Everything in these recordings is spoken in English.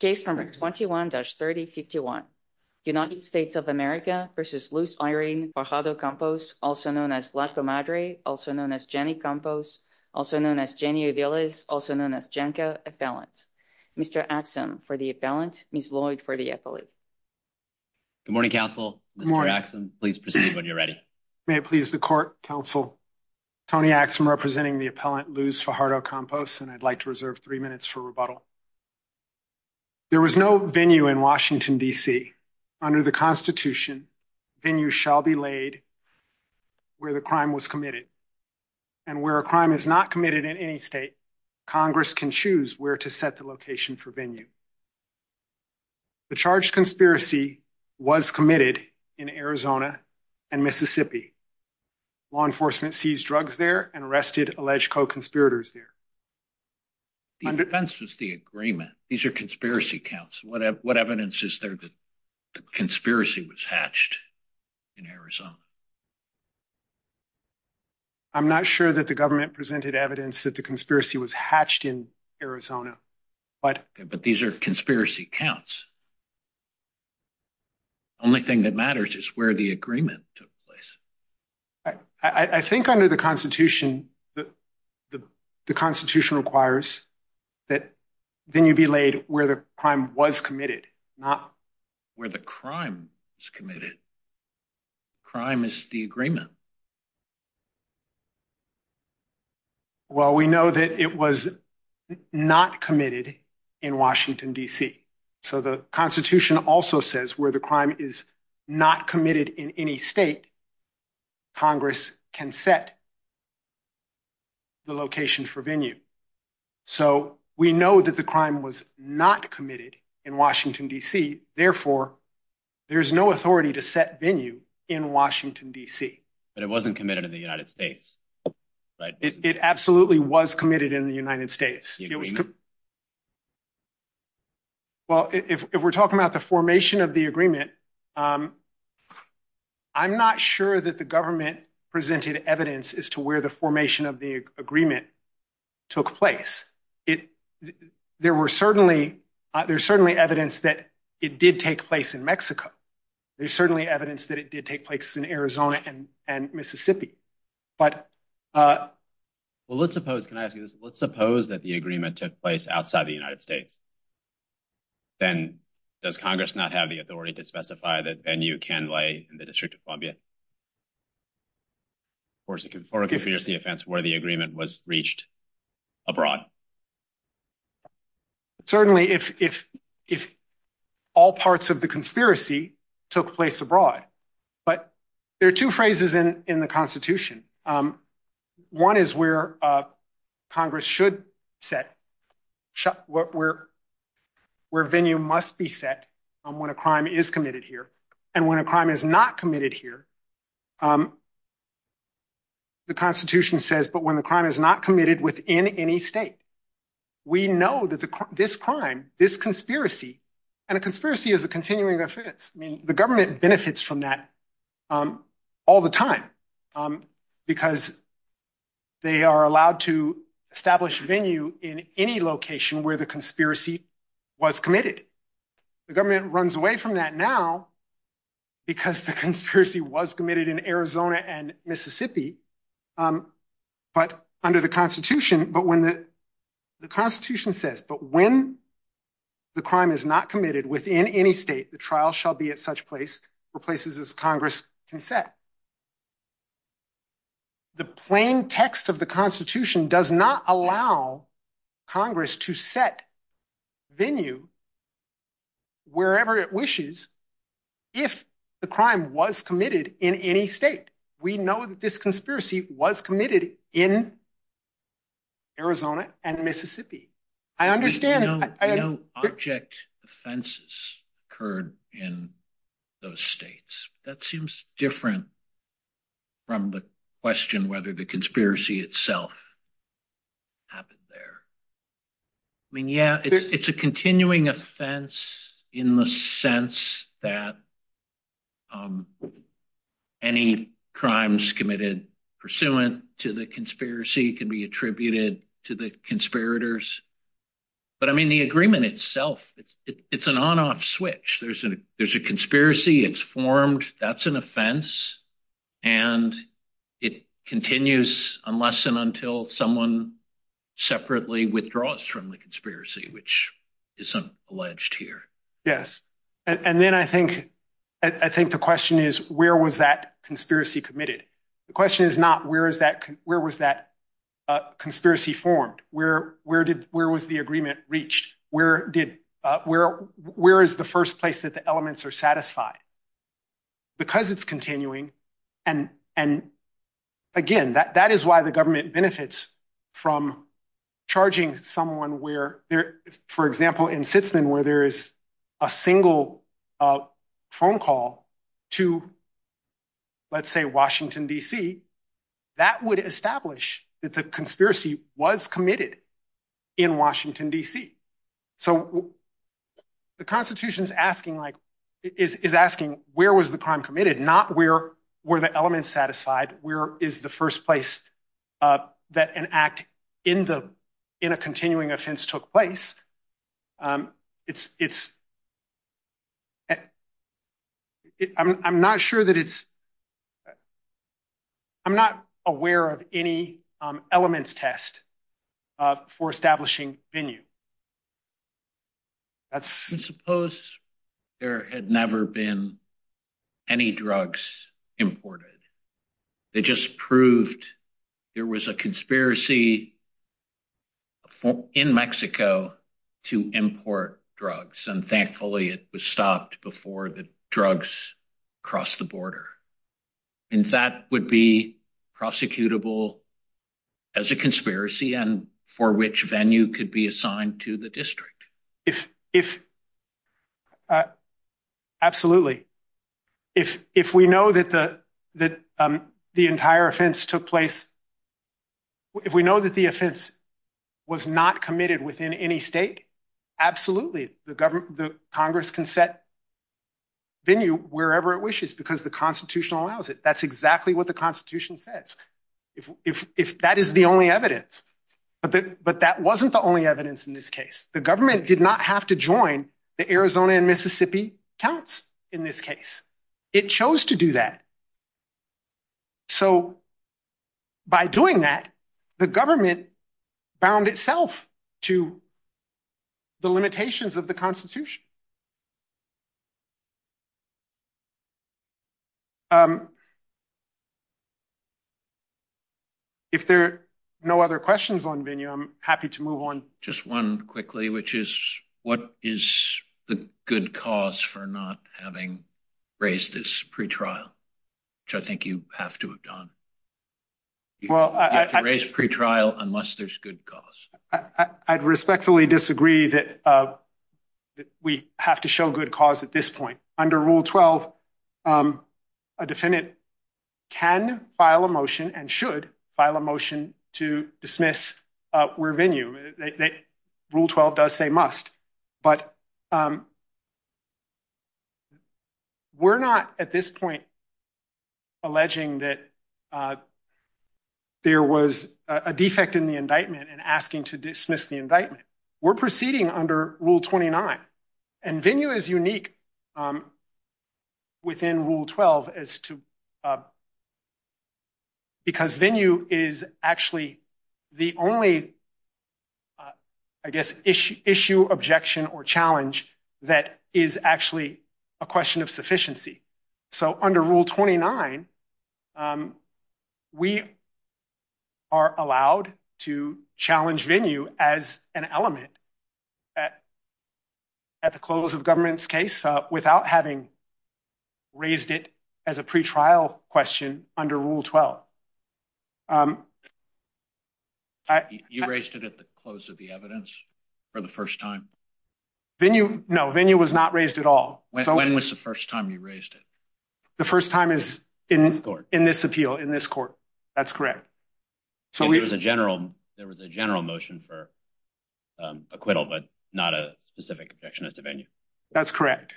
Case number 21-3051. United States of America versus Luz Irene Fajardo Campos, also known as Laco Madre, also known as Jenny Campos, also known as Jenny Uviles, also known as Janka Appellant. Mr. Axum for the appellant, Ms. Lloyd for the affiliate. Good morning, counsel. Good morning. Mr. Axum, please proceed when you're ready. May it please the court, counsel. Tony Axum representing the appellant Luz Fajardo Campos, and I'd like to reserve three minutes for rebuttal. There was no venue in Washington, D.C. Under the Constitution, venues shall be laid where the crime was committed. And where a crime is not committed in any state, Congress can choose where to set the location for venue. The charged conspiracy was committed in Arizona and Mississippi. Law enforcement seized drugs there and arrested alleged co-conspirators there. The offense was the agreement. These are conspiracy counts. What evidence is there that the conspiracy was hatched in Arizona? I'm not sure that the government presented evidence that the conspiracy was hatched in Arizona, but- But these are conspiracy counts. Only thing that matters is where the agreement took place. I think under the Constitution, the Constitution requires that venue be laid where the crime was committed, not- Where the crime was committed. Crime is the agreement. Well, we know that it was not committed in Washington, D.C. So the Constitution also says where the crime is not committed in any state, Congress can set the location for venue. So we know that the crime was not committed in Washington, D.C. Therefore, there's no authority to set venue in Washington, D.C. But it wasn't committed in the United States, right? It absolutely was committed in the United States. The agreement? Well, if we're talking about the formation of the agreement, I'm not sure that the government presented evidence as to where the formation of the agreement took place. There were certainly, there's certainly evidence that it did take place in Mexico. There's certainly evidence that it did take place in Arizona and Mississippi. But- Well, let's suppose, can I ask you this? Let's suppose that the agreement took place outside the United States. Then does Congress not have the authority to specify that venue can lay in the District of Columbia? Or is it a conspiracy offense where the agreement was reached abroad? Certainly, if all parts of the conspiracy took place abroad. But there are two phrases in the Constitution. One is where Congress should set, where venue must be set on when a crime is committed here. And when a crime is not committed here, the Constitution says, but when the crime is not committed within any state. We know that this crime, this conspiracy, and a conspiracy is a continuing offense. I mean, the government benefits from that all the time because they are allowed to establish venue in any location where the conspiracy was committed. The government runs away from that now because the conspiracy was committed. It was committed in Arizona and Mississippi, but under the Constitution, but when the Constitution says, but when the crime is not committed within any state, the trial shall be at such place or places as Congress can set. The plain text of the Constitution does not allow Congress to set venue wherever it wishes if the crime was committed in any state. We know that this conspiracy was committed in Arizona and Mississippi. I understand- I know object offenses occurred in those states. That seems different from the question whether the conspiracy itself happened there. I mean, yeah, it's a continuing offense in the sense that any crimes committed pursuant to the conspiracy can be attributed to the conspirators, but I mean, the agreement itself, it's an on-off switch. There's a conspiracy, it's formed, that's an offense, and it continues unless and until someone separately withdraws from the conspiracy, which isn't alleged here. Yes, and then I think the question is, where was that conspiracy committed? The question is not, where was that conspiracy formed? Where was the agreement reached? Where is the first place that the elements are satisfied? Because it's continuing, and again, that is why the government benefits from charging someone where, for example, in Sitzman, where there is a single phone call to, let's say, Washington, D.C., that would establish that the conspiracy was committed in Washington, D.C. So the Constitution's asking, is asking where was the crime committed, not where were the elements satisfied, where is the first place that an act in a continuing offense took place? I'm not sure that it's, I'm not aware of any elements test for establishing venue. That's- I suppose there had never been any drugs imported. They just proved there was a conspiracy in Mexico to import drugs, and thankfully it was stopped before the drugs crossed the border. And that would be prosecutable as a conspiracy and for which venue could be assigned to the district. If, absolutely. If we know that the entire offense took place, if we know that the offense was not committed within any state, absolutely. The Congress can set venue wherever it wishes because the Constitution allows it. That's exactly what the Constitution says. If that is the only evidence, but that wasn't the only evidence in this case. The government did not have to join the Arizona and Mississippi counts in this case. It chose to do that. So by doing that, the government bound itself to the limitations of the Constitution. If there are no other questions on venue, I'm happy to move on. Just one quickly, which is what is the good cause for not having raised this pretrial? Which I think you have to have done. You have to raise pretrial unless there's good cause. I'd respectfully disagree that we have to show good cause at this point. Under Rule 12, a defendant can file a motion and should file a motion to dismiss where venue. Rule 12 does say must, but we're not at this point alleging that there was a defect in the indictment and asking to dismiss the indictment. We're proceeding under Rule 29. And venue is unique within Rule 12 as to because venue is actually the only, I guess, issue, objection, or challenge that is actually a question of sufficiency. So under Rule 29, we are allowed to challenge venue as an element at the close of government's case without having raised it as a pretrial question under Rule 12. You raised it at the close of the evidence for the first time? Venue, no, venue was not raised at all. When was the first time you raised it? The first time is in this appeal, in this court. That's correct. So there was a general motion for acquittal, but not a specific objection as to venue. That's correct.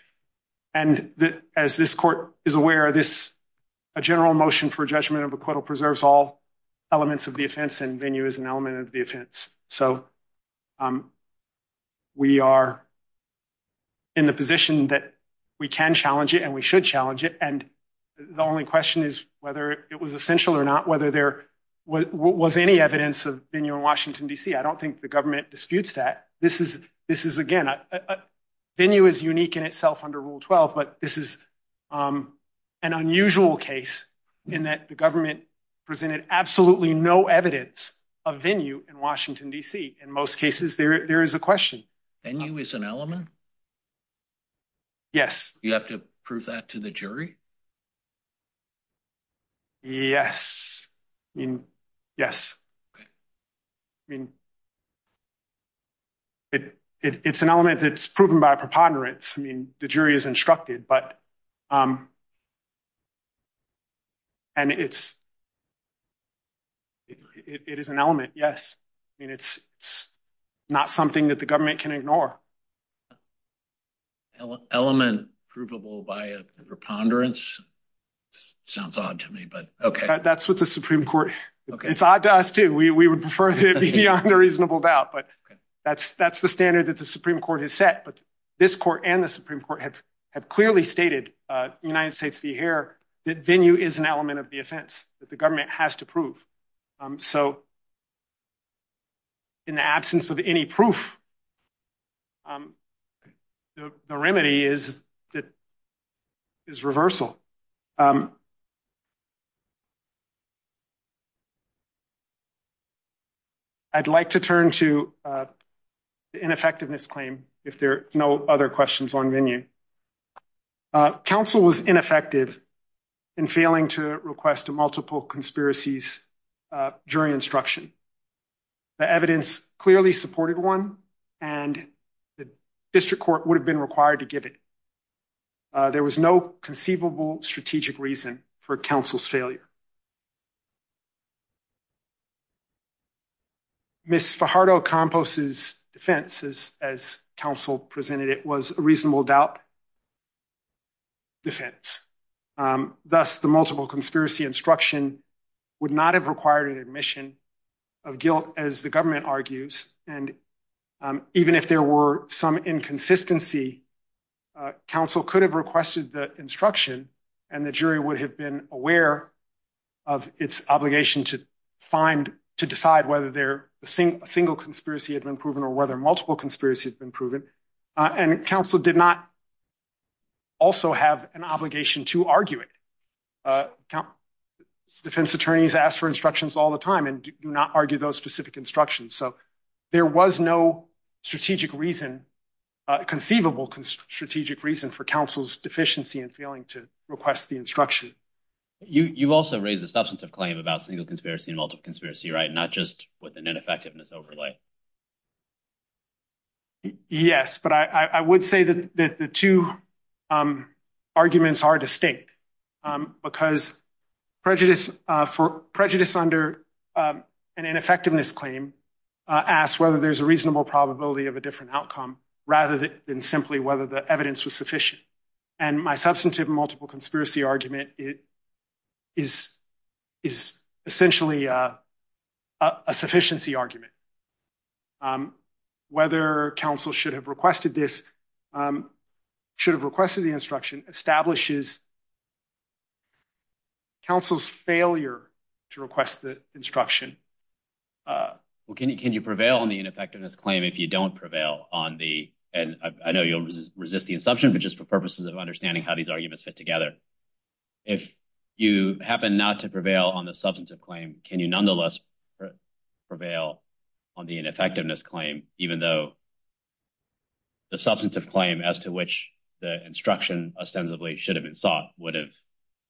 And as this court is aware, this general motion for judgment of acquittal preserves all elements of the offense and venue is an element of the offense. So we are in the position that we can challenge it and we should challenge it. And the only question is whether it was essential or not, whether there was any evidence of venue in Washington, DC. I don't think the government disputes that. This is, again, venue is unique in itself under Rule 12, but this is an unusual case in that the government presented absolutely no evidence of venue in Washington, DC. In most cases, there is a question. Venue is an element? Yes. You have to prove that to the jury? Yes, I mean, yes. I mean, it's an element that's proven by preponderance. I mean, the jury is instructed, but, and it's, it is an element, yes. I mean, it's not something that the government can ignore. Element provable by a preponderance? Sounds odd to me, but okay. That's what the Supreme Court, it's odd to us too. We would prefer that it be beyond a reasonable doubt, but that's the standard that the Supreme Court has set. But this court and the Supreme Court have clearly stated, United States v. Hare, that venue is an element of the offense that the government has to prove. So in the absence of any proof, the remedy is that, is reversal. I'd like to turn to the ineffectiveness claim if there are no other questions on venue. Counsel was ineffective in failing to request multiple conspiracies during instruction. The evidence clearly supported one, and the district court would have been required to give it. There was no conceivable strategic reason for counsel's failure. Ms. Fajardo-Campos' defense, as counsel presented it, was a reasonable doubt defense. Thus, the multiple conspiracy instruction would not have required an admission of guilt, as the government argues. And even if there were some inconsistency, counsel could have requested the instruction, and the jury would have been aware of the inconsistency of the instruction. Of its obligation to find, to decide whether a single conspiracy had been proven or whether multiple conspiracies had been proven. And counsel did not also have an obligation to argue it. Defense attorneys ask for instructions all the time and do not argue those specific instructions. So there was no strategic reason, conceivable strategic reason for counsel's deficiency in failing to request the instruction. You also raised a substantive claim about single conspiracy and multiple conspiracy, right? Not just with an ineffectiveness overlay. Yes, but I would say that the two arguments are distinct because prejudice under an ineffectiveness claim asks whether there's a reasonable probability of a different outcome, rather than simply whether the evidence was sufficient. And my substantive multiple conspiracy argument is essentially a sufficiency argument. Whether counsel should have requested this, should have requested the instruction establishes counsel's failure to request the instruction. Well, can you prevail on the ineffectiveness claim if you don't prevail on the, and I know you'll resist the assumption, but just for purposes of understanding how these arguments fit together, if you happen not to prevail on the substantive claim, can you nonetheless prevail on the ineffectiveness claim, even though the substantive claim as to which the instruction ostensibly should have been sought would have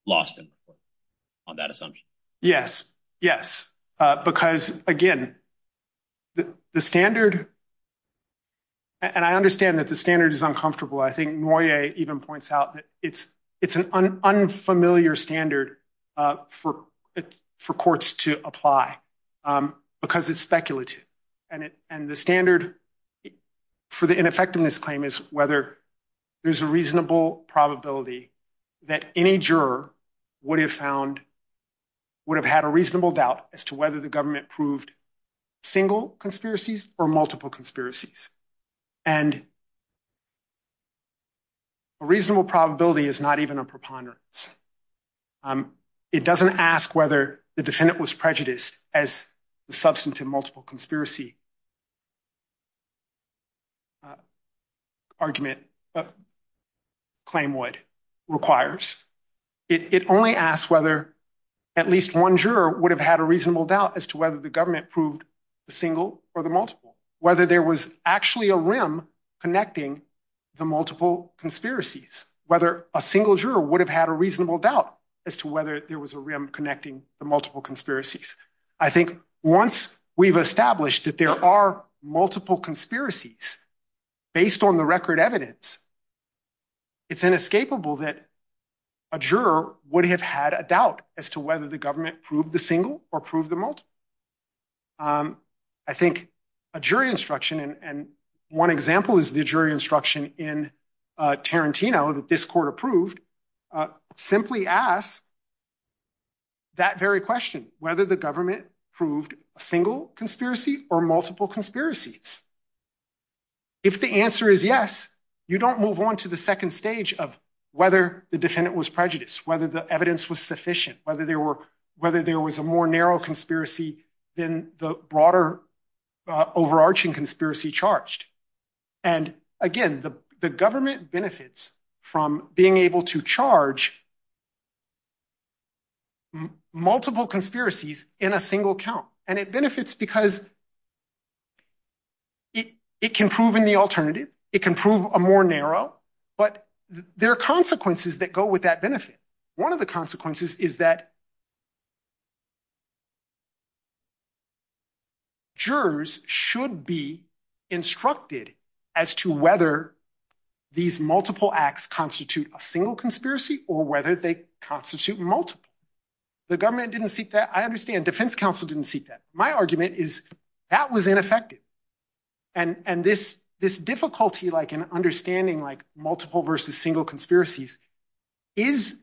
lost in the court on that assumption? Yes, yes, because again, the standard, and I understand that the standard is uncomfortable. I think Moyet even points out that it's an unfamiliar standard for courts to apply because it's speculative. And the standard for the ineffectiveness claim is whether there's a reasonable probability that any juror would have found, would have had a reasonable doubt as to whether the government proved single conspiracies or multiple conspiracies. And a reasonable probability is not even a preponderance. It doesn't ask whether the defendant was prejudiced as the substantive multiple conspiracy argument claim would, requires. It only asks whether at least one juror would have had a reasonable doubt as to whether the government proved the single or the multiple, whether there was actually a rim connecting the multiple conspiracies, whether a single juror would have had a reasonable doubt as to whether there was a rim connecting the multiple conspiracies. I think once we've established that there are multiple conspiracies based on the record evidence, it's inescapable that a juror would have had a doubt as to whether the government proved the single or proved the multiple. I think a jury instruction, and one example is the jury instruction in Tarantino that this court approved, simply asks that very question, whether the government proved a single conspiracy or multiple conspiracies. If the answer is yes, you don't move on to the second stage of whether the defendant was prejudiced, whether the evidence was sufficient, whether there was a more narrow conspiracy than the broader overarching conspiracy charged. And again, the government benefits from being able to charge multiple conspiracies in a single count. And it benefits because it can prove in the alternative, it can prove a more narrow, but there are consequences that go with that benefit. One of the consequences is that jurors should be instructed as to whether these multiple acts constitute a single conspiracy or whether they constitute multiple. The government didn't seek that, I understand defense counsel didn't seek that. My argument is that was ineffective. And this difficulty like in understanding like multiple versus single conspiracies is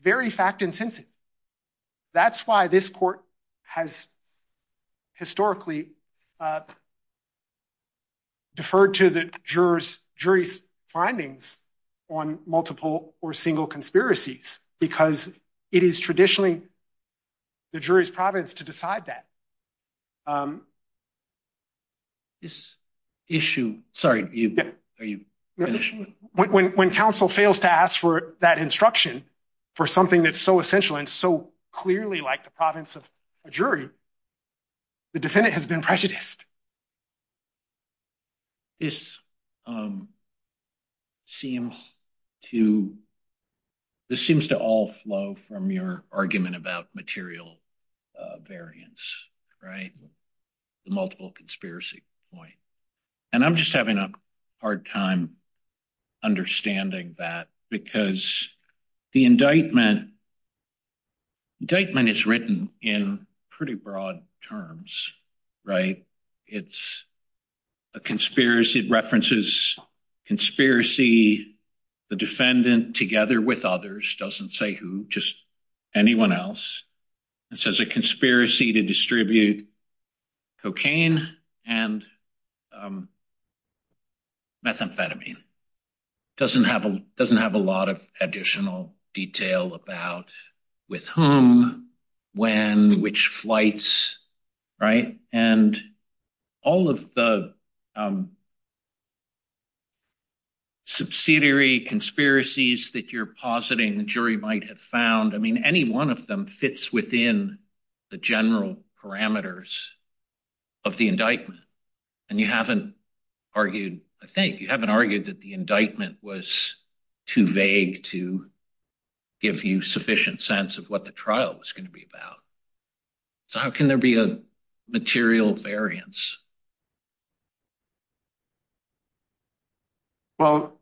very fact-intensive. That's why this court has historically deferred to the jury's findings on multiple or single conspiracies because it is traditionally the jury's province to decide that. This issue, sorry, are you finished? When counsel fails to ask for that instruction for something that's so essential and so clearly like the province of a jury, the defendant has been prejudiced. This seems to all flow from your argument about material variance, right? The multiple conspiracy point. And I'm just having a hard time understanding that because the indictment is written in pretty broad terms, right? It's a conspiracy, it references conspiracy, the defendant together with others, doesn't say who, just anyone else. It says a conspiracy to distribute cocaine and methamphetamine. Doesn't have a lot of additional detail about with whom, when, which flights, right? And all of the subsidiary conspiracies that you're positing the jury might have found, I mean, any one of them fits within the general parameters of the indictment. And you haven't argued, I think, you haven't argued that the indictment was too vague to give you sufficient sense of what the trial was gonna be about. So how can there be a material variance? Well,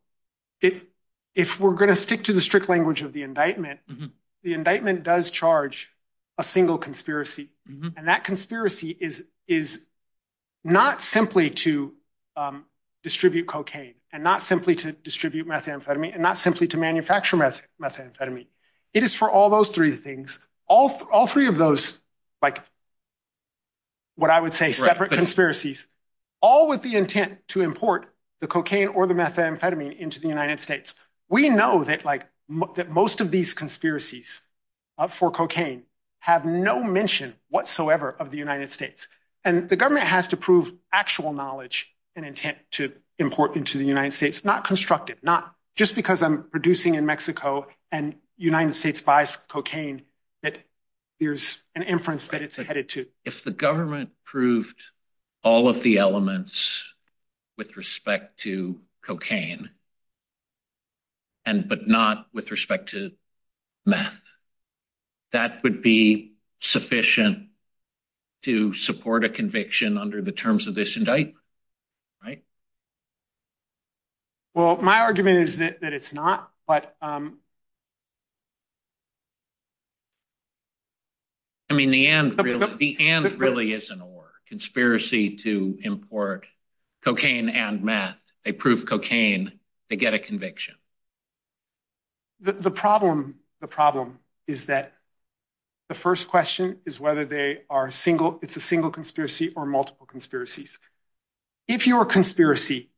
if we're gonna stick to the strict language of the indictment, the indictment does charge a single conspiracy. And that conspiracy is not simply to distribute cocaine and not simply to distribute methamphetamine and not simply to manufacture methamphetamine. It is for all those three things, all three of those, like what I would say, separate conspiracies, all with the intent to import the cocaine or the methamphetamine into the United States. We know that most of these conspiracies for cocaine have no mention whatsoever of the United States. And the government has to prove actual knowledge and intent to import into the United States, not constructive, not just because I'm producing in Mexico and United States buys cocaine that there's an inference that it's headed to. If the government proved all of the elements with respect to cocaine, but not with respect to meth, that would be sufficient to support a conviction under the terms of this indictment, right? Well, my argument is that it's not, but. I mean, the and really is an or. Conspiracy to import cocaine and meth. They prove cocaine, they get a conviction. The problem, the problem is that the first question is whether they are single, it's a single conspiracy or multiple conspiracies. If your conspiracy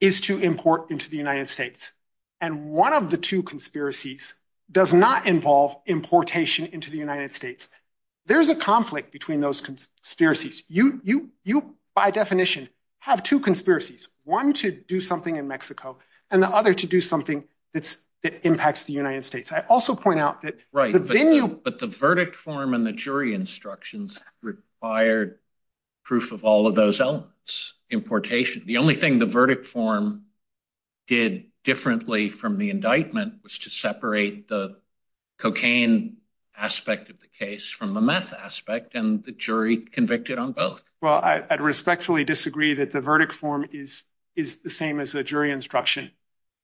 is to import into the United States and one of the two conspiracies does not involve importation into the United States, there's a conflict between those conspiracies. You, by definition have two conspiracies, one to do something in Mexico, and the other to do something that impacts the United States. I also point out that. Right, but the verdict form and the jury instructions required proof of all of those elements. Importation, the only thing the verdict form did differently from the indictment was to separate the cocaine aspect of the case from the meth aspect and the jury convicted on both. Well, I'd respectfully disagree that the verdict form is the same as the jury instruction.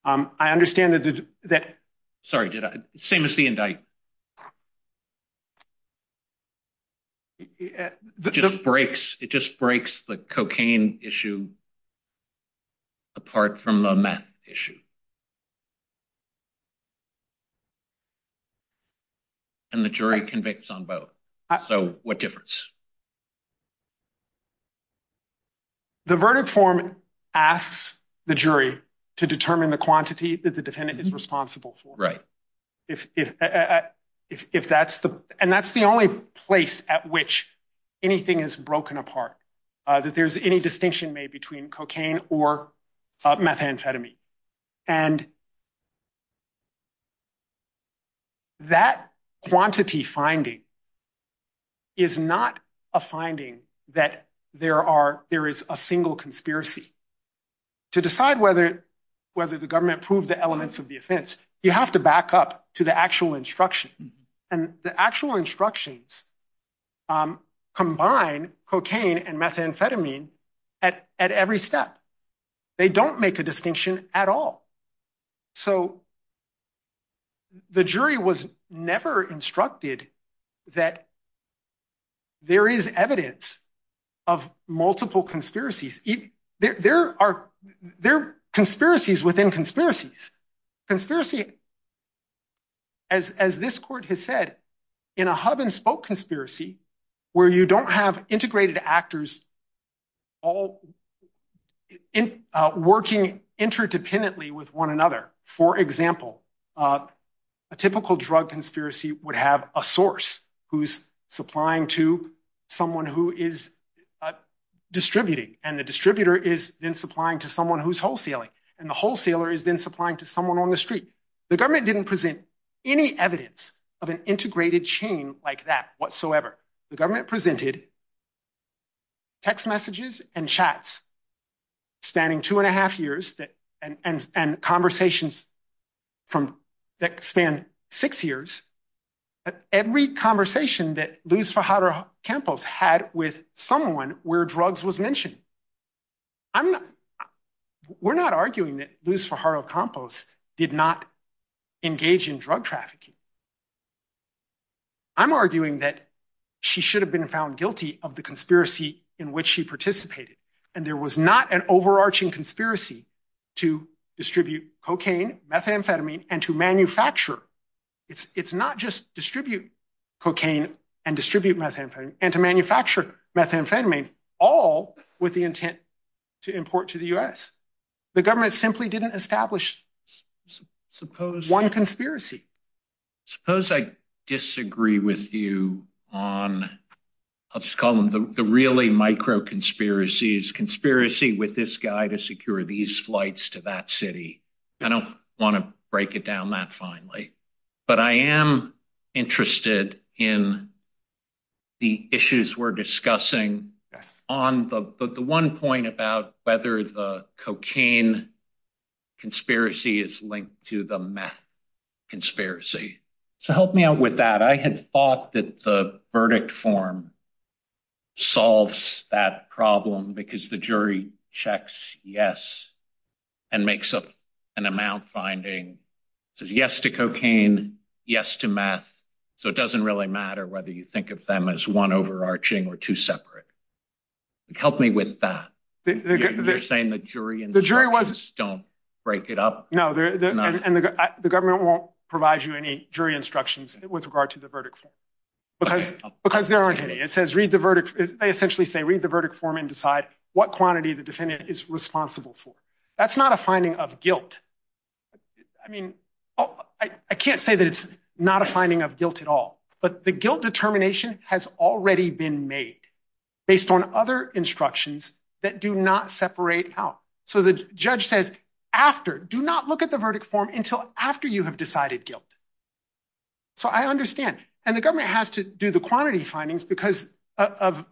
I understand that- Sorry, did I? Same as the indict. It just breaks the cocaine issue apart from a meth issue. And the jury convicts on both. So what difference? The verdict form asks the jury to determine the quantity that the defendant is responsible for. And that's the only place at which anything is broken apart, that there's any distinction made between cocaine or methamphetamine. And that quantity finding is not a matter of the jury. It's not a finding that there is a single conspiracy. To decide whether the government proved the elements of the offense, you have to back up to the actual instruction. And the actual instructions combine cocaine and methamphetamine at every step. They don't make a distinction at all. So the jury was never instructed that there is evidence of multiple conspiracies. There are conspiracies within conspiracies. Conspiracy, as this court has said, in a hub and spoke conspiracy, where you don't have integrated actors all working interdependently with one another. For example, a typical drug conspiracy would have a source who's supplying to someone who is distributing. And the distributor is then supplying to someone who's wholesaling. And the wholesaler is then supplying to someone on the street. The government didn't present any evidence of an integrated chain like that whatsoever. The government presented text messages and chats spanning two and a half years and conversations that span six years. Every conversation that Luz Fajardo-Campos had with someone where drugs was mentioned. We're not arguing that Luz Fajardo-Campos did not engage in drug trafficking. I'm arguing that she should have been found guilty of the conspiracy in which she participated. And there was not an overarching conspiracy to distribute cocaine, methamphetamine, and to manufacture. It's not just distribute cocaine and distribute methamphetamine and to manufacture methamphetamine all with the intent to import to the US. The government simply didn't establish one conspiracy. Suppose I disagree with you on, I'll just call them the really micro conspiracies, conspiracy with this guy to secure these flights to that city. I don't wanna break it down that finely, but I am interested in the issues we're discussing on the one point about whether the cocaine conspiracy is linked to the meth conspiracy. So help me out with that. I had thought that the verdict form solves that problem because the jury checks yes and makes up an amount finding, says yes to cocaine, yes to meth. So it doesn't really matter whether you think of them as one overarching or two separate. Help me with that. You're saying the jury and the jury was, don't break it up. No, and the government won't provide you any jury instructions with regard to the verdict because there aren't any. It says read the verdict. They essentially say read the verdict form and decide what quantity the defendant is responsible for. That's not a finding of guilt. I mean, I can't say that it's not a finding of guilt at all, but the guilt determination has already been made based on other instructions that do not separate out. So the judge says after, do not look at the verdict form until after you have decided guilt. So I understand. And the government has to do the quantity findings because of,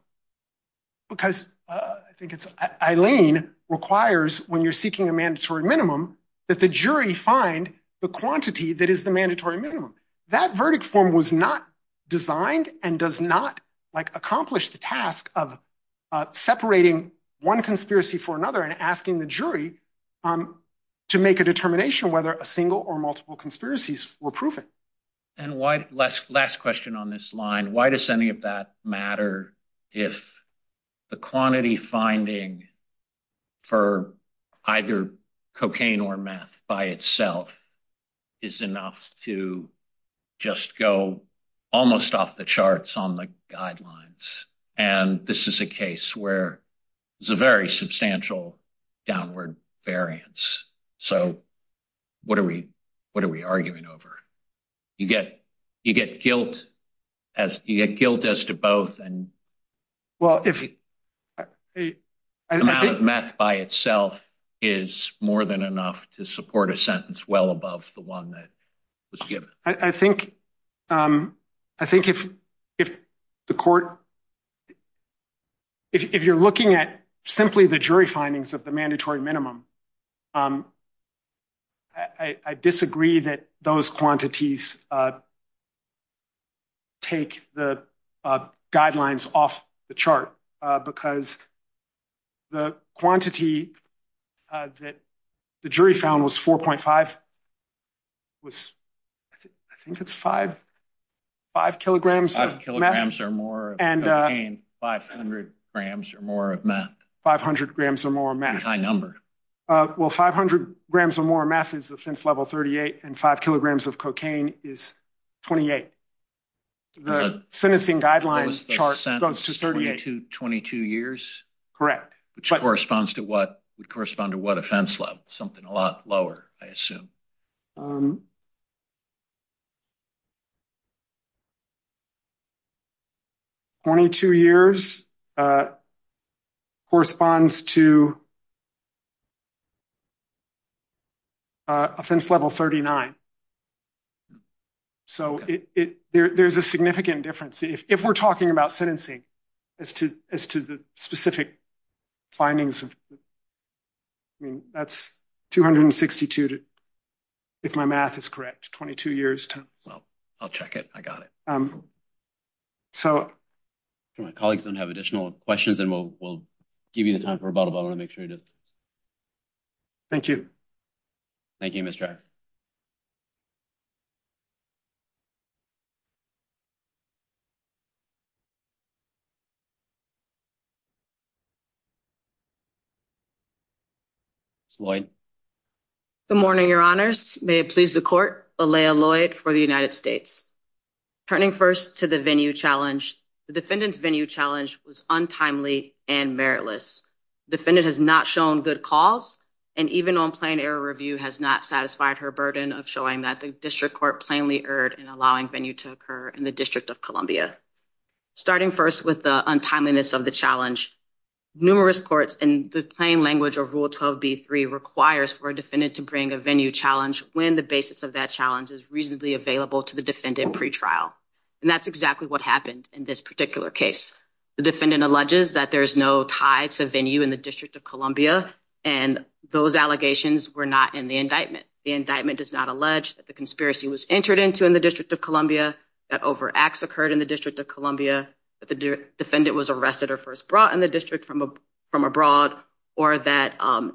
because I think it's Eileen requires when you're seeking a mandatory minimum that the jury find the quantity that is the mandatory minimum. That verdict form was not designed and does not like accomplish the task of separating one conspiracy for another and asking the jury to make a determination whether a single or multiple conspiracies were proven. And why, last question on this line, why does any of that matter if the quantity finding for either cocaine or meth by itself is enough to just go almost off the charts on the guidelines and this is a case where there's a very substantial downward variance. So what are we arguing over? You get guilt as to both and. Well, if meth by itself is more than enough to support a sentence well above the one that was given. I think if the court, if you're looking at simply the jury findings of the mandatory minimum, I disagree that those quantities take the guidelines off the chart because the quantity that the jury found was 4.5 was, I think it's five kilograms of meth. Five kilograms or more of cocaine, 500 grams or more of meth. 500 grams or more meth. That's a pretty high number. Well, 500 grams or more meth is offense level 38 and five kilograms of cocaine is 28. The sentencing guidelines chart goes to 38. 22 years? Correct. Which corresponds to what, would correspond to what offense level? Something a lot lower, I assume. Um. 22 years corresponds to offense level 39. So there's a significant difference. If we're talking about sentencing as to the specific findings of, I mean, that's 262, if my math is correct, 22 years. Well, I'll check it. I got it. So. If my colleagues don't have additional questions, then we'll give you the time for a bottle, but I want to make sure to. Thank you. Thank you, Mr. Jack. Ms. Lloyd. Good morning, your honors. May it please the court, Alaya Lloyd for the United States. Turning first to the venue challenge, the defendant's venue challenge was untimely and meritless. Defendant has not shown good calls and even on plain error review has not satisfied her burden of showing that the district court plainly erred in allowing venue to occur in the District of Columbia. Starting first with the untimeliness of the challenge, numerous courts and the plain language of Rule 12B3 requires for a defendant to bring a venue challenge when the basis of that challenge is reasonably available to the defendant pretrial. And that's exactly what happened in this particular case. The defendant alleges that there's no tie to venue in the District of Columbia and those allegations were not in the indictment. The indictment does not allege that the conspiracy was entered into in the District of Columbia, that over acts occurred in the District of Columbia, that the defendant was arrested or first brought in the district from abroad, or that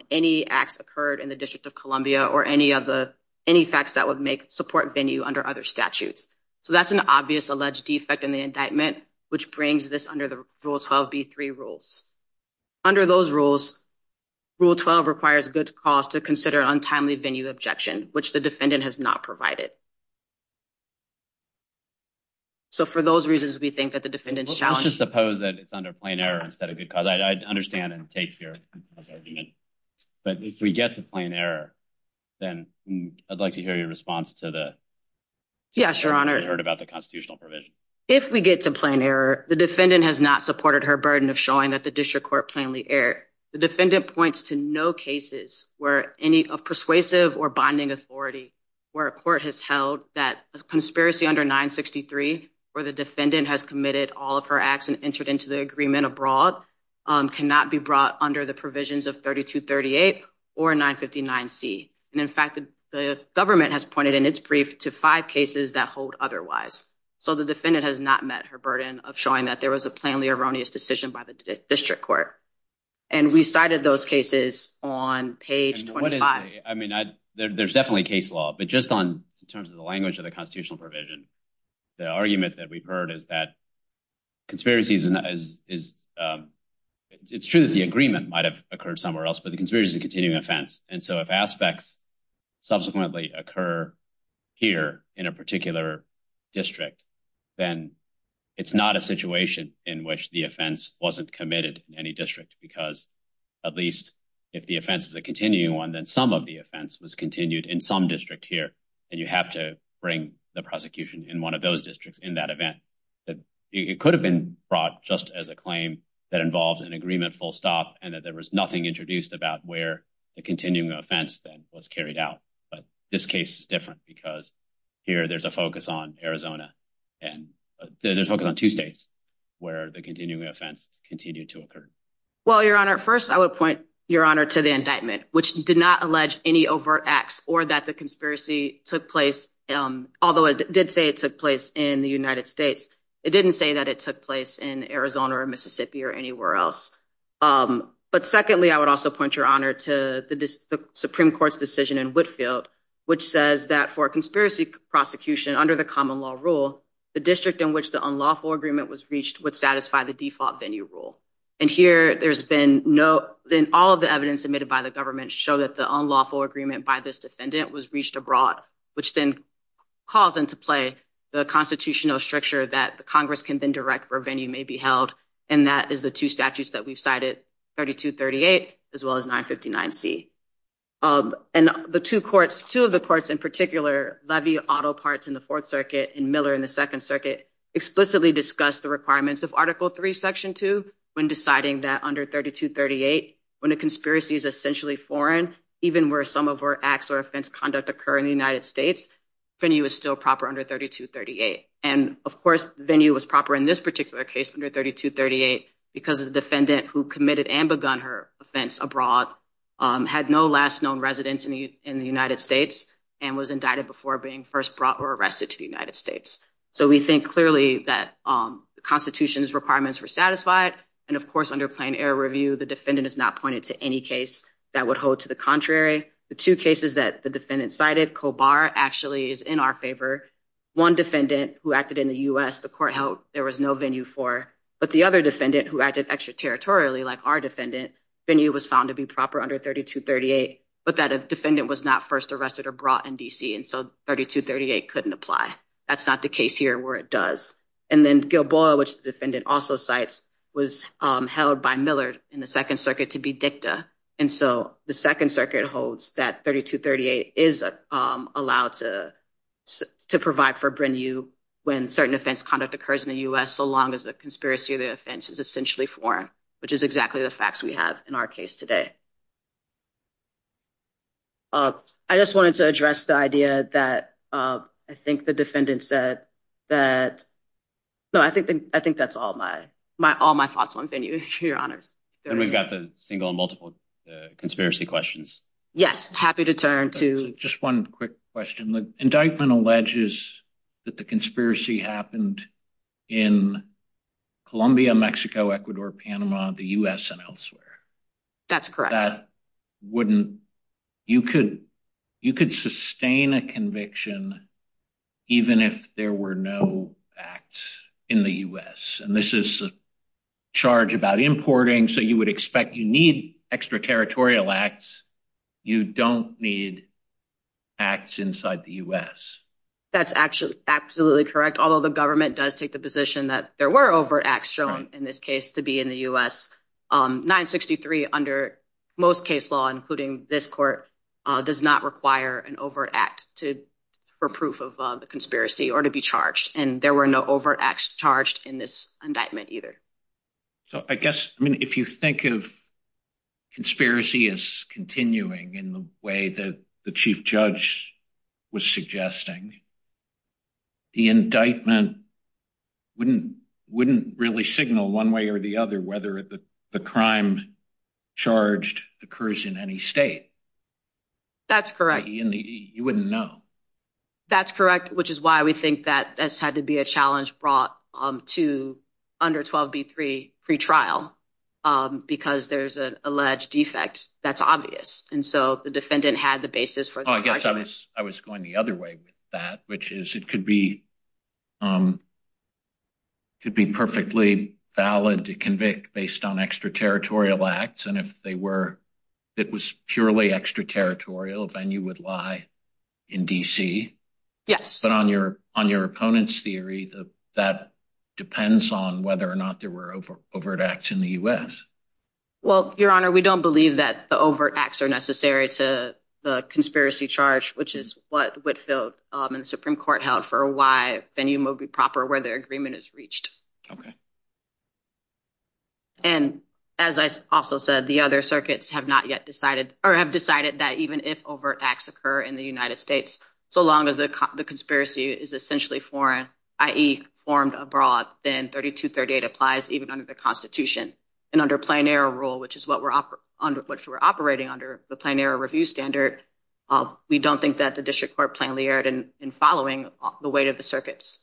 any acts occurred in the District of Columbia or any facts that would make support venue under other statutes. So that's an obvious alleged defect in the indictment, which brings this under the Rule 12B3 rules. Under those rules, Rule 12 requires good cause to consider untimely venue objection, which the defendant has not provided. So for those reasons, we think that the defendant's challenge- I'm gonna go to plain error instead of good cause. I understand and take your argument. But if we get to plain error, then I'd like to hear your response to the- Yeah, Your Honor. I heard about the constitutional provision. If we get to plain error, the defendant has not supported her burden of showing that the district court plainly erred. The defendant points to no cases where any of persuasive or bonding authority where a court has held that a conspiracy under 963 where the defendant has committed all of her acts and entered into the agreement abroad cannot be brought under the provisions of 3238 or 959C. And in fact, the government has pointed in its brief to five cases that hold otherwise. So the defendant has not met her burden of showing that there was a plainly erroneous decision by the district court. And we cited those cases on page 25. I mean, there's definitely case law, but just in terms of the language of the constitutional provision, the argument that we've heard is that it's true that the agreement might've occurred somewhere else, but the conspiracy is a continuing offense. And so if aspects subsequently occur here in a particular district, then it's not a situation in which the offense wasn't committed in any district because at least if the offense is a continuing one, then some of the offense was continued in some district here. And you have to bring the prosecution in one of those districts in that event, that it could have been brought just as a claim that involves an agreement full stop and that there was nothing introduced about where the continuing offense then was carried out. But this case is different because here there's a focus on Arizona and there's focus on two states where the continuing offense continued to occur. Well, Your Honor, first, I would point Your Honor to the indictment, which did not allege any overt acts or that the conspiracy took place. Although it did say it took place in the United States, it didn't say that it took place in Arizona or Mississippi or anywhere else. But secondly, I would also point Your Honor to the Supreme Court's decision in Whitefield, which says that for a conspiracy prosecution under the common law rule, the district in which the unlawful agreement was reached would satisfy the default venue rule. And here there's been no, then all of the evidence admitted by the government show that the unlawful agreement by this defendant was reached abroad, which then calls into play the constitutional structure that the Congress can then direct where venue may be held. And that is the two statutes that we've cited, 3238, as well as 959C. And the two courts, two of the courts in particular, Levy, Otto Parts in the Fourth Circuit and Miller in the Second Circuit, explicitly discussed the requirements of Article III, Section 2, when deciding that under 3238, when a conspiracy is essentially foreign, even where some of our acts or offense conduct occur in the United States, venue is still proper under 3238. And of course, venue was proper in this particular case under 3238, because the defendant who committed and begun her offense abroad had no last known residence in the United States and was indicted before being first brought or arrested to the United States. So we think clearly that the Constitution's requirements were satisfied. And of course, under Plain Air Review, the defendant is not pointed to any case that would hold to the contrary. The two cases that the defendant cited, Kobar actually is in our favor. One defendant who acted in the US, the court held there was no venue for, but the other defendant who acted extraterritorially, like our defendant, venue was found to be proper under 3238, but that a defendant was not first arrested or brought in DC, and so 3238 couldn't apply. That's not the case here where it does. And then Gilboa, which the defendant also cites, was held by Miller in the Second Circuit to be dicta. And so the Second Circuit holds that 3238 is allowed to provide for venue when certain offense conduct occurs in the US, so long as the conspiracy of the offense is essentially foreign, which is exactly the facts we have in our case today. I just wanted to address the idea that I think the defendant said that, no, I think that's all my thoughts on venue, Your Honors. And we've got the single and multiple conspiracy questions. Yes, happy to turn to- Just one quick question. The indictment alleges that the conspiracy happened in Colombia, Mexico, Ecuador, Panama, the US, and elsewhere. That's correct. You could sustain a conviction even if there were no acts in the US, and this is a charge about importing. So you would expect you need extraterritorial acts. You don't need acts inside the US. That's absolutely correct, although the government does take the position that there were overt acts shown in this case to be in the US. 963 under most case law, including this court, does not require an overt act to prove of the conspiracy or to be charged. And there were no overt acts charged in this indictment either. So I guess, I mean, if you think of conspiracy as continuing in the way that the chief judge was suggesting the indictment wouldn't really signal one way or the other whether the crime charged occurs in any state. That's correct. You wouldn't know. That's correct, which is why we think that's had to be a challenge brought to under 12B3 pretrial because there's an alleged defect that's obvious. And so the defendant had the basis for- Oh, I guess I was going the other way with that, which is it could be perfectly valid to convict based on extraterritorial acts. And if it was purely extraterritorial, then you would lie in DC. Yes. But on your opponent's theory, that depends on whether or not there were overt acts in the US. Well, Your Honor, we don't believe that the overt acts are necessary to the conspiracy charge, which is what Whitfield and the Supreme Court held for why venue will be proper where their agreement is reached. Okay. And as I also said, the other circuits have not yet decided or have decided that even if overt acts occur in the United States, so long as the conspiracy is essentially foreign, i.e. formed abroad, then 3238 applies even under the constitution and under plenary rule, which is what we're operating under, the plenary review standard. We don't think that the district court plainly erred in following the weight of the circuits.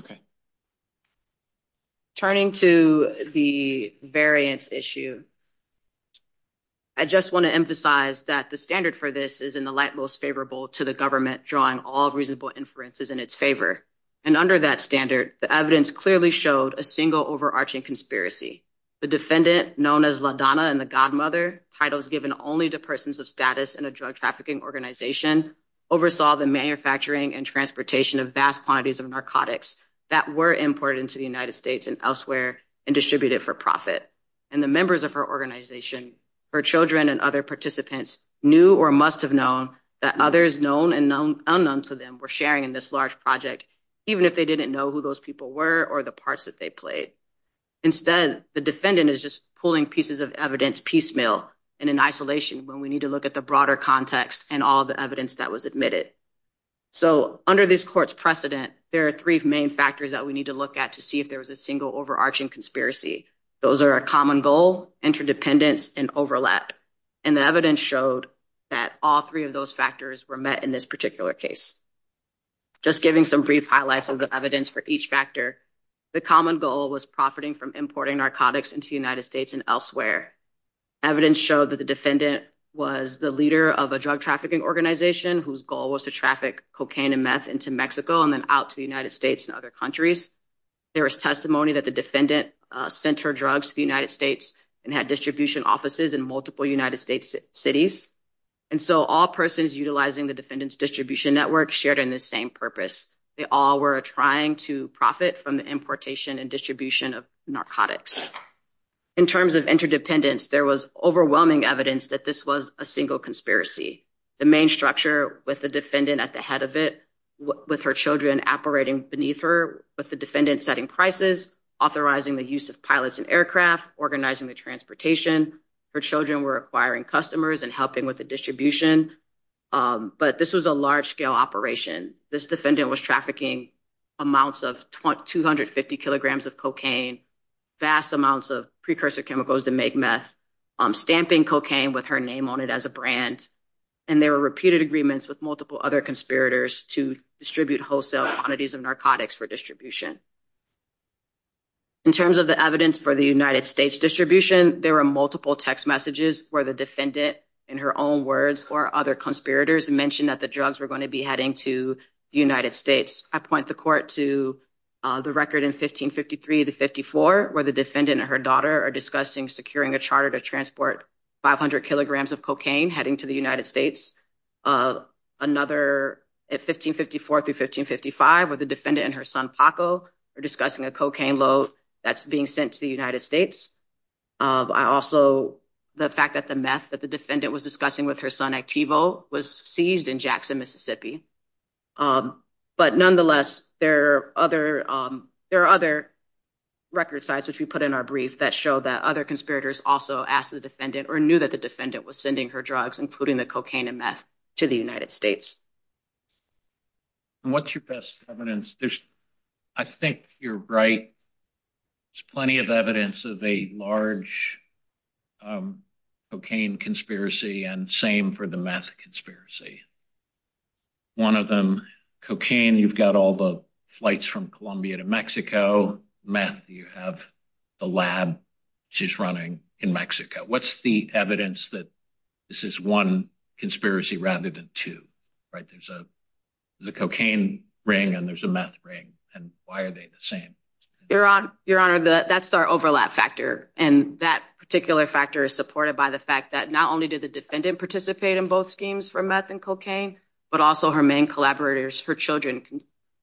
Okay. Turning to the variance issue, I just want to emphasize that the standard for this is in the light most favorable to the government drawing all reasonable inferences in its favor. And under that standard, the evidence clearly showed a single overarching conspiracy. The defendant known as LaDonna and the Godmother, titles given only to persons of status in a drug trafficking organization, oversaw the manufacturing and transportation of vast quantities of narcotics that were imported into the United States and elsewhere and distributed for profit. And the members of her organization, her children and other participants knew or must have known that others known and unknown to them were sharing in this large project, even if they didn't know who those people were or the parts that they played. Instead, the defendant is just pulling pieces of evidence piecemeal and in isolation when we need to look at the broader context and all the evidence that was admitted. So under this court's precedent, there are three main factors that we need to look at to see if there was a single overarching conspiracy. Those are a common goal, interdependence and overlap. And the evidence showed that all three of those factors were met in this particular case. Just giving some brief highlights of the evidence for each factor, the common goal was profiting from importing narcotics into the United States and elsewhere. Evidence showed that the defendant was the leader of a drug trafficking organization whose goal was to traffic cocaine and meth into Mexico and then out to the United States and other countries. There was testimony that the defendant sent her drugs to the United States and had distribution offices in multiple United States cities. And so all persons utilizing the defendant's distribution network shared in the same purpose. They all were trying to profit from the importation and distribution of narcotics. In terms of interdependence, there was overwhelming evidence that this was a single conspiracy. The main structure with the defendant at the head of it, with her children operating beneath her, with the defendant setting prices, authorizing the use of pilots and aircraft, organizing the transportation. Her children were acquiring customers and helping with the distribution. But this was a large-scale operation. This defendant was trafficking amounts of 250 kilograms of cocaine, vast amounts of precursor chemicals to make meth, stamping cocaine with her name on it as a brand. And there were repeated agreements with multiple other conspirators to distribute wholesale quantities of narcotics for distribution. In terms of the evidence for the United States distribution, there were multiple text messages where the defendant, in her own words, or other conspirators mentioned that the drugs were going to be heading to the United States. I point the court to the record in 1553 to 54, where the defendant and her daughter are discussing securing a charter to transport 500 kilograms of cocaine heading to the United States. Another at 1554 through 1555, where the defendant and her son Paco are discussing a cocaine load that's being sent to the United States. I also, the fact that the meth that the defendant was discussing with her son Activo was seized in Jackson, Mississippi. But nonetheless, there are other record sites, which we put in our brief, that show that other conspirators also asked the defendant or knew that the defendant was sending her drugs, including the cocaine and meth, to the United States. And what's your best evidence? There's, I think you're right. There's plenty of evidence of a large cocaine conspiracy, and same for the meth conspiracy. One of them, cocaine, you've got all the flights from Colombia to Mexico. Meth, you have the lab, which is running in Mexico. What's the evidence that this is one conspiracy rather than two, right? There's a cocaine ring and there's a meth ring. And why are they the same? Your Honor, that's our overlap factor. And that particular factor is supported by the fact that not only did the defendant participate in both schemes for meth and cocaine, but also her main collaborators, her children,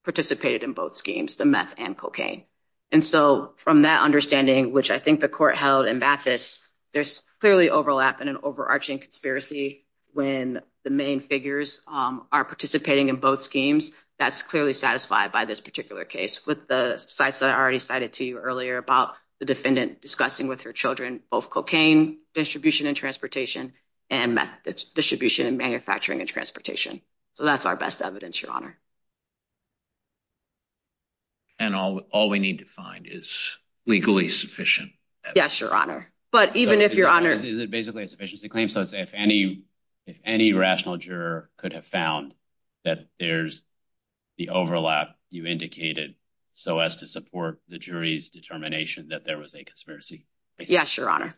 participated in both schemes, the meth and cocaine. And so from that understanding, which I think the court held in Mathis, there's clearly overlap in an overarching conspiracy when the main figures are participating in both schemes. That's clearly satisfied by this particular case. With the sites that I already cited to you earlier about the defendant discussing with her children, both cocaine distribution and transportation, and meth distribution and manufacturing and transportation. So that's our best evidence, Your Honor. And all we need to find is legally sufficient evidence. Yes, Your Honor. But even if Your Honor- Is it basically a sufficiency claim? So it's if any rational juror could have found that there's the overlap you indicated so as to support the jury's determination that there was a conspiracy? Yes, Your Honor.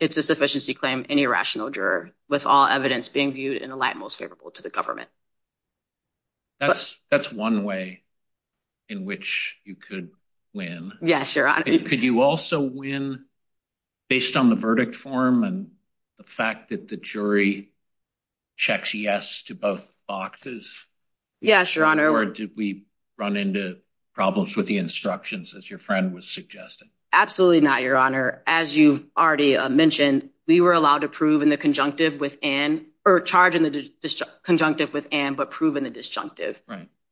It's a sufficiency claim, any rational juror, with all evidence being viewed in the light most favorable to the government. That's one way in which you could win. Yes, Your Honor. Could you also win based on the verdict form and the fact that the jury checks yes to both boxes? Yes, Your Honor. Or did we run into problems with the instructions as your friend was suggesting? Absolutely not, Your Honor. As you've already mentioned, we were allowed to prove in the conjunctive with Ann, or charge in the conjunctive with Ann, but prove in the disjunctive.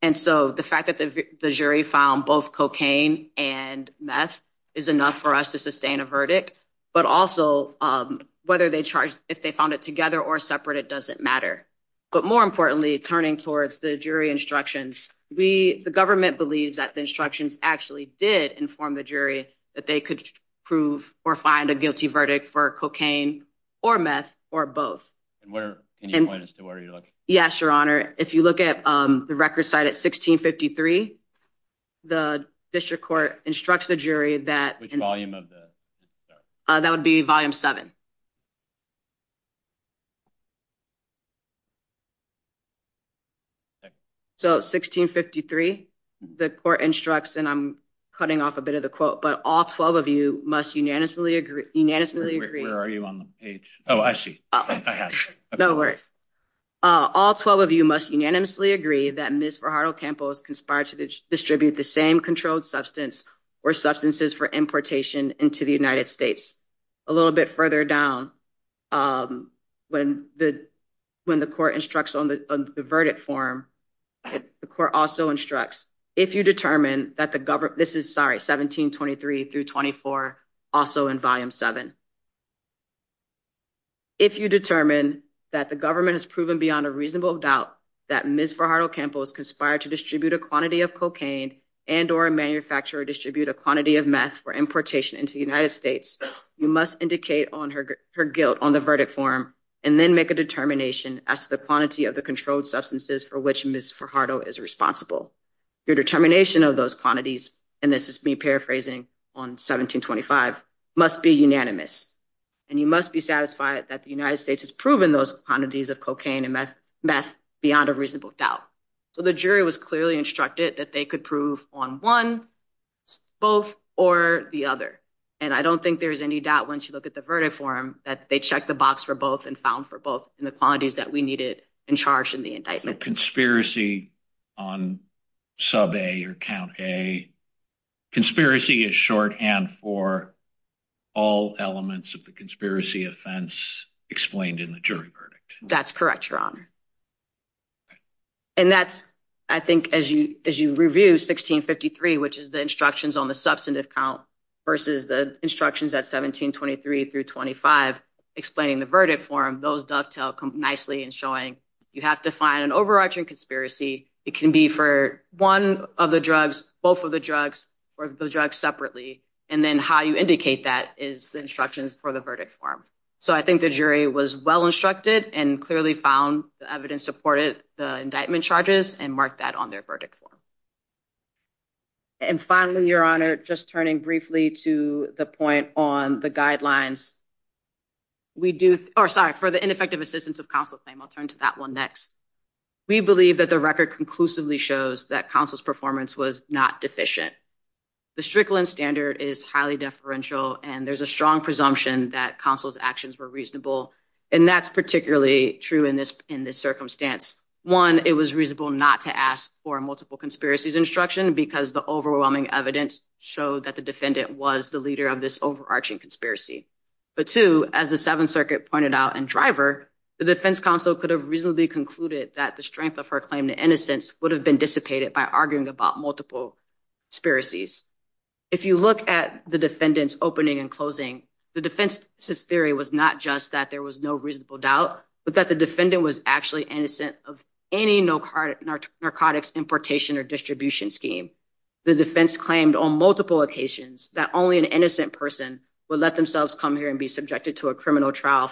And so the fact that the jury found both cocaine and meth is enough for us to sustain a verdict, but also whether they charged, if they found it together or separate, it doesn't matter. But more importantly, turning towards the jury instructions, the government believes that the instructions actually did inform the jury that they could prove or find a guilty verdict for cocaine or meth or both. And where, can you point us to where you're looking? Yes, Your Honor. If you look at the record site at 1653, the district court instructs the jury that- What's the volume of the- That would be volume seven. So 1653, the court instructs, and I'm cutting off a bit of the quote, but all 12 of you must unanimously agree- Where are you on the page? Oh, I see. I have it. No worries. All 12 of you must unanimously agree that Ms. Verhardl-Campos conspired to distribute the same controlled substance or substances for importation into the United States. A little bit further down, when the court instructs on the verdict form, the court also instructs, if you determine that the government- This is, sorry, 1723 through 24, also in volume seven. If you determine that the government has proven beyond a reasonable doubt that Ms. Verhardl-Campos conspired to distribute a quantity of cocaine and or manufacture or distribute a quantity of meth for importation into the United States, you must indicate her guilt on the verdict form and then make a determination as to the quantity of the controlled substances for which Ms. Verhardl is responsible. Your determination of those quantities, and this is me paraphrasing on 1725, must be unanimous. And you must be satisfied that the United States has proven those quantities of cocaine and meth beyond a reasonable doubt. So the jury was clearly instructed that they could prove on one, both, or the other. And I don't think there's any doubt once you look at the verdict form that they checked the box for both and found for both in the quantities that we needed and charged in the indictment. Conspiracy on sub A or count A. Conspiracy is shorthand for all elements of the conspiracy offense explained in the jury verdict. That's correct, Your Honor. And that's, I think, as you review 1653, which is the instructions on the substantive count versus the instructions at 1723 through 25 explaining the verdict form, those dovetail nicely in showing you have to find an overarching conspiracy. It can be for one of the drugs, both of the drugs, or the drugs separately. And then how you indicate that is the instructions for the verdict form. So I think the jury was well-instructed and clearly found the evidence supported the indictment charges and marked that on their verdict form. And finally, Your Honor, just turning briefly to the point on the guidelines. We do, or sorry, for the ineffective assistance of counsel claim, I'll turn to that one next. We believe that the record conclusively shows that counsel's performance was not deficient. The Strickland standard is highly deferential and there's a strong presumption that counsel's actions were reasonable. And that's particularly true in this circumstance. One, it was reasonable not to ask for multiple conspiracies instruction because the overwhelming evidence showed that the defendant was the leader of this overarching conspiracy. But two, as the Seventh Circuit pointed out in Driver, the defense counsel could have reasonably concluded that the strength of her claim to innocence would have been dissipated by arguing about multiple conspiracies. If you look at the defendant's opening and closing, the defense's theory was not just that there was no reasonable doubt, but that the defendant was actually innocent of any narcotics importation or distribution scheme. The defense claimed on multiple occasions that only an innocent person would let themselves come here and be subjected to a criminal trial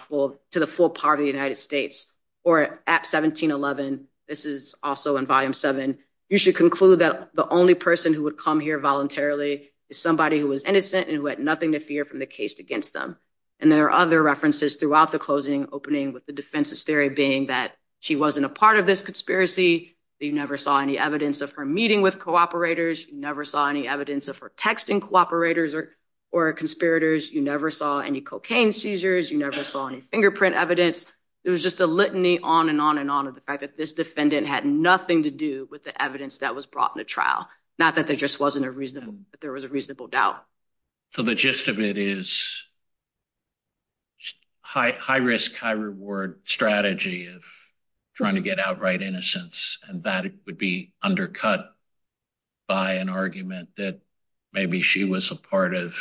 to the full power of the United States. Or at 1711, this is also in volume seven, you should conclude that the only person who would come here voluntarily is somebody who was innocent and who had nothing to fear from the case against them. And there are other references throughout the closing, opening with the defense's theory being that she wasn't a part of this conspiracy, that you never saw any evidence of her meeting with cooperators, you never saw any evidence of her texting cooperators or conspirators, you never saw any cocaine seizures, you never saw any fingerprint evidence. It was just a litany on and on and on of the fact that this defendant had nothing to do with the evidence that was brought into trial. Not that there just wasn't a reasonable, but there was a reasonable doubt. So the gist of it is high risk, high reward strategy of trying to get outright innocence. And that would be undercut by an argument that maybe she was a part of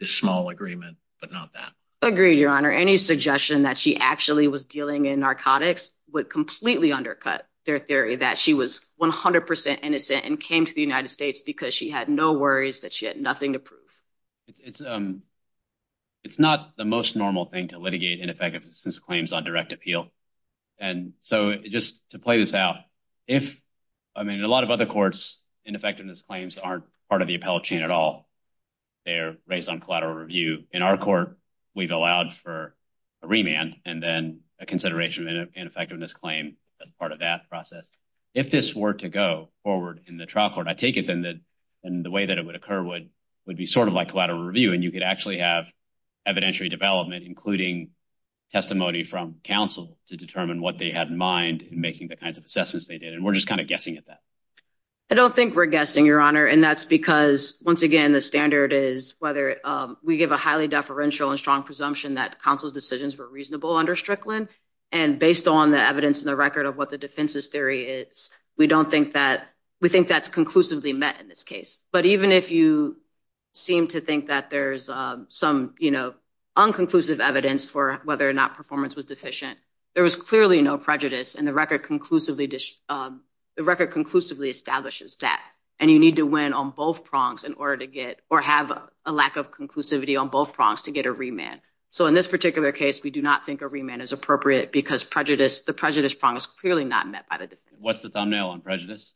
this small agreement, but not that. Agreed, Your Honor. Any suggestion that she actually was dealing in narcotics would completely undercut their theory that she was 100% innocent and came to the United States because she had no worries, that she had nothing to prove. It's not the most normal thing to litigate ineffectiveness claims on direct appeal. And so just to play this out, if, I mean, in a lot of other courts, ineffectiveness claims aren't part of the appellate chain at all. They're raised on collateral review. In our court, we've allowed for a remand and then a consideration of an ineffectiveness claim as part of that process. If this were to go forward in the trial court, I take it then that the way that it would occur would be sort of like collateral review and you could actually have evidentiary development, including testimony from counsel to determine what they had in mind in making the kinds of assessments they did. And we're just kind of guessing at that. I don't think we're guessing, Your Honor. And that's because, once again, the standard is whether we give a highly deferential and strong presumption that counsel's decisions were reasonable under Strickland. And based on the evidence and the record of what the defense's theory is, we don't think that, we think that's conclusively met in this case. But even if you seem to think that there's some, you know, unconclusive evidence for whether or not performance was deficient, there was clearly no prejudice and the record conclusively establishes that. And you need to win on both prongs in order to get, or have a lack of conclusivity on both prongs to get a remand. So in this particular case, we do not think a remand is appropriate because the prejudice prong is clearly not met by the defense. What's the thumbnail on prejudice?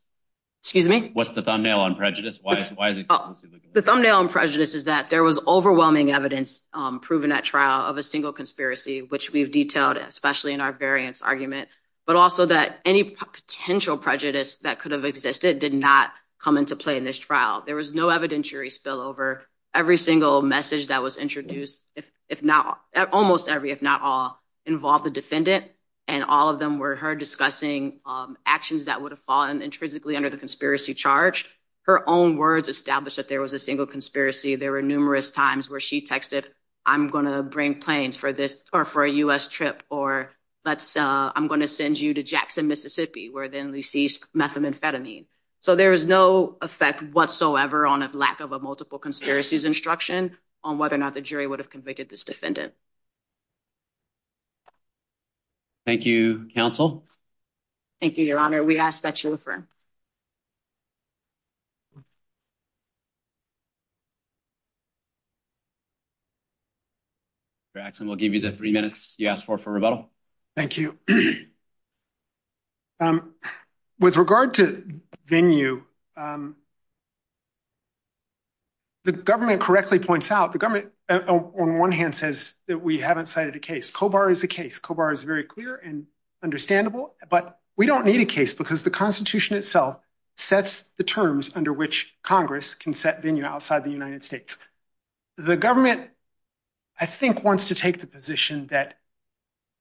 Excuse me? What's the thumbnail on prejudice? Why is it conclusively? The thumbnail on prejudice is that there was overwhelming evidence proven at trial of a single conspiracy, which we've detailed, especially in our variance argument, but also that any potential prejudice that could have existed did not come into play in this trial. There was no evidentiary spillover. Every single message that was introduced, if not, almost every, if not all, involved the defendant. And all of them were her discussing actions that would have fallen intrinsically under the conspiracy charge. Her own words established that there was a single conspiracy. There were numerous times where she texted, I'm gonna bring planes for this, or for a US trip, or I'm gonna send you to Jackson, Mississippi, where then they seized methamphetamine. So there was no effect whatsoever on a lack of a multiple conspiracies instruction on whether or not the jury would have convicted this defendant. Thank you, counsel. Thank you, your honor. We ask that you refer. Jackson, we'll give you the three minutes you asked for for rebuttal. Thank you. With regard to venue, the government correctly points out, the government on one hand says that we haven't cited a case. COBAR is a case. COBAR is very clear and understandable, but we don't need a case because the Constitution itself sets the terms under which Congress can set venue outside the United States. The government, I think, wants to take the position that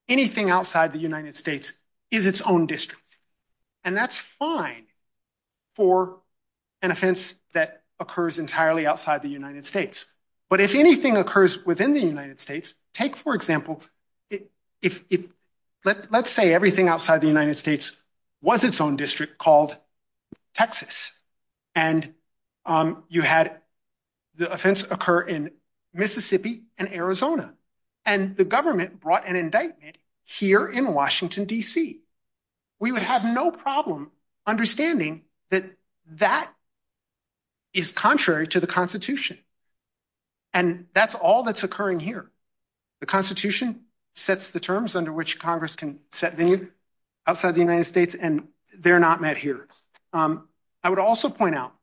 anything outside the United States is its own district. And that's fine for an offense that occurs entirely outside the United States. But if anything occurs within the United States, take, for example, let's say everything outside the United States was its own district called Texas. And you had the offense occur in Mississippi and Arizona. And the government brought an indictment here in Washington, D.C. We would have no problem understanding that that is contrary to the Constitution. And that's all that's occurring here. The Constitution sets the terms under which Congress can set venue outside the United States, and they're not met here. I would also point out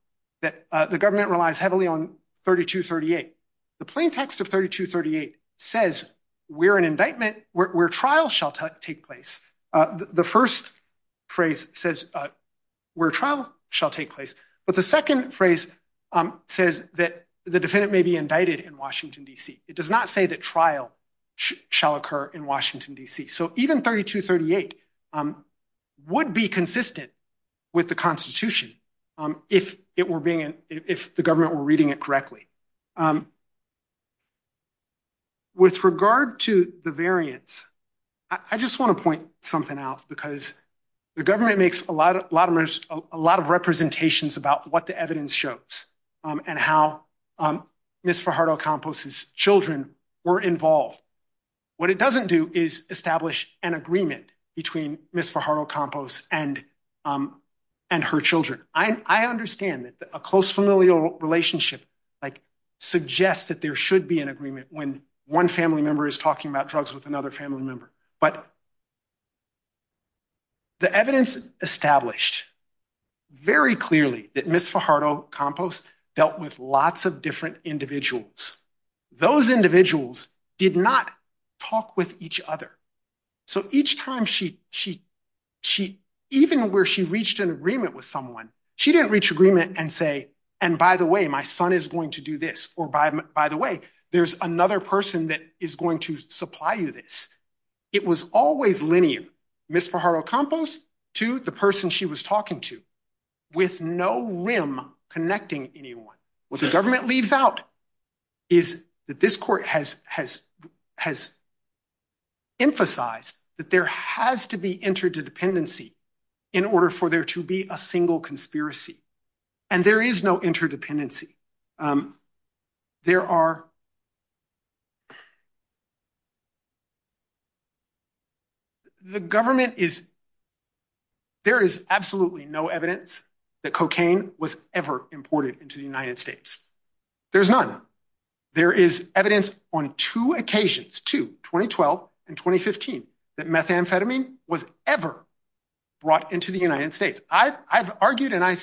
that the government relies heavily on 3238. The plain text of 3238 says we're an indictment where trial shall take place. The first phrase says where trial shall take place. But the second phrase says that the defendant may be indicted in Washington, D.C. It does not say that trial shall occur in Washington, D.C. So even 3238 would be consistent with the Constitution if the government were reading it correctly. With regard to the variance, I just wanna point something out because the government makes a lot of representations about what the evidence shows and how Ms. Fajardo-Campos' children were involved. What it doesn't do is establish an agreement between Ms. Fajardo-Campos and her children. I understand that a close familial relationship suggests that there should be an agreement when one family member is talking about drugs with another family member. But the evidence established very clearly that Ms. Fajardo-Campos dealt with lots of different individuals. Those individuals did not talk with each other. So each time, even where she reached an agreement with someone, she didn't reach agreement and say, and by the way, my son is going to do this, or by the way, there's another person that is going to supply you this. It was always linear, Ms. Fajardo-Campos to the person she was talking to with no rim connecting anyone. What the government leaves out is that this court has emphasized that there has to be interdependency in order for there to be a single conspiracy. And there is no interdependency. There are, the government is, there is absolutely no evidence that cocaine was ever imported into the United States. There's none. There is evidence on two occasions, two, 2012 and 2015, that methamphetamine was ever brought into the United States. I've argued and I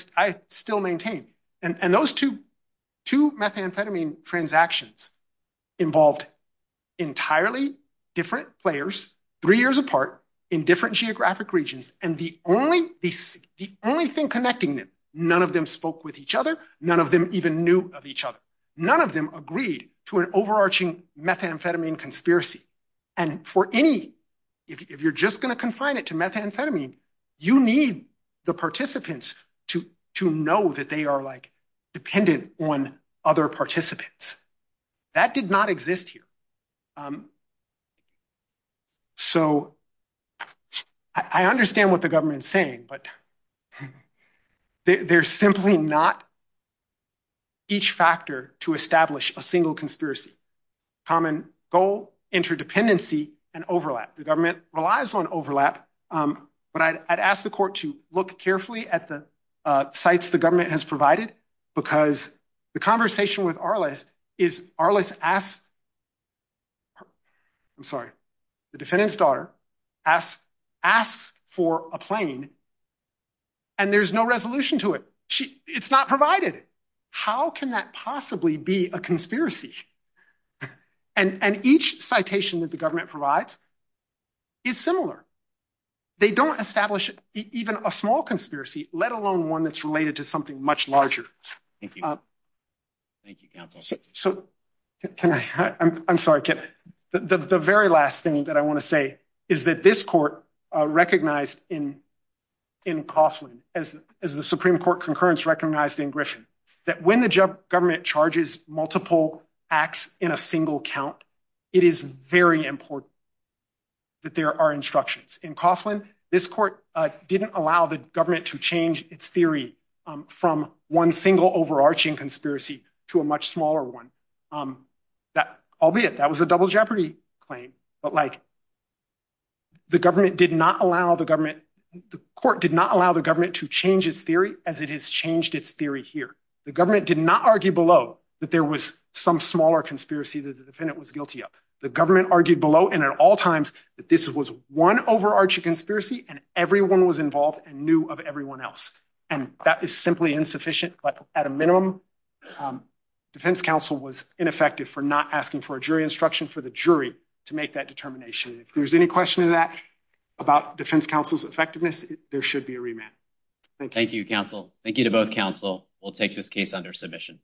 still maintain. And those two methamphetamine transactions involved entirely different players, three years apart in different geographic regions. And the only thing connecting them, none of them spoke with each other. None of them even knew of each other. None of them agreed to an overarching methamphetamine conspiracy. And for any, if you're just going to confine it to methamphetamine, you need the participants to know that they are dependent on other participants. That did not exist here. So I understand what the government is saying, but there's simply not each factor to establish a single conspiracy. Common goal, interdependency, and overlap. The government relies on overlap, but I'd ask the court to look carefully at the sites the government has provided, because the conversation with Arliss is Arliss asks, I'm sorry, the defendant's daughter asks for a plane and there's no resolution to it. It's not provided. How can that possibly be a conspiracy? And each citation that the government provides is similar. They don't establish even a small conspiracy, let alone one that's related to something much larger. Thank you. Thank you, counsel. So can I, I'm sorry, can I, the very last thing that I want to say is that this court recognized in Coughlin as the Supreme Court concurrence recognized in Griffin, that when the government charges multiple acts in a single count, it is very important that there are instructions. In Coughlin, this court didn't allow the government to change its theory from one single overarching conspiracy to a much smaller one. Albeit, that was a double jeopardy claim, but like the government did not allow the government, the court did not allow the government to change its theory as it has changed its theory here. The government did not argue below that there was some smaller conspiracy that the defendant was guilty of. The government argued below and at all times that this was one overarching conspiracy and everyone was involved and knew of everyone else. And that is simply insufficient, but at a minimum, defense counsel was ineffective for not asking for a jury instruction for the jury to make that determination. If there's any question of that about defense counsel's effectiveness, there should be a remand. Thank you. Thank you, counsel. Thank you to both counsel. We'll take this case under submission.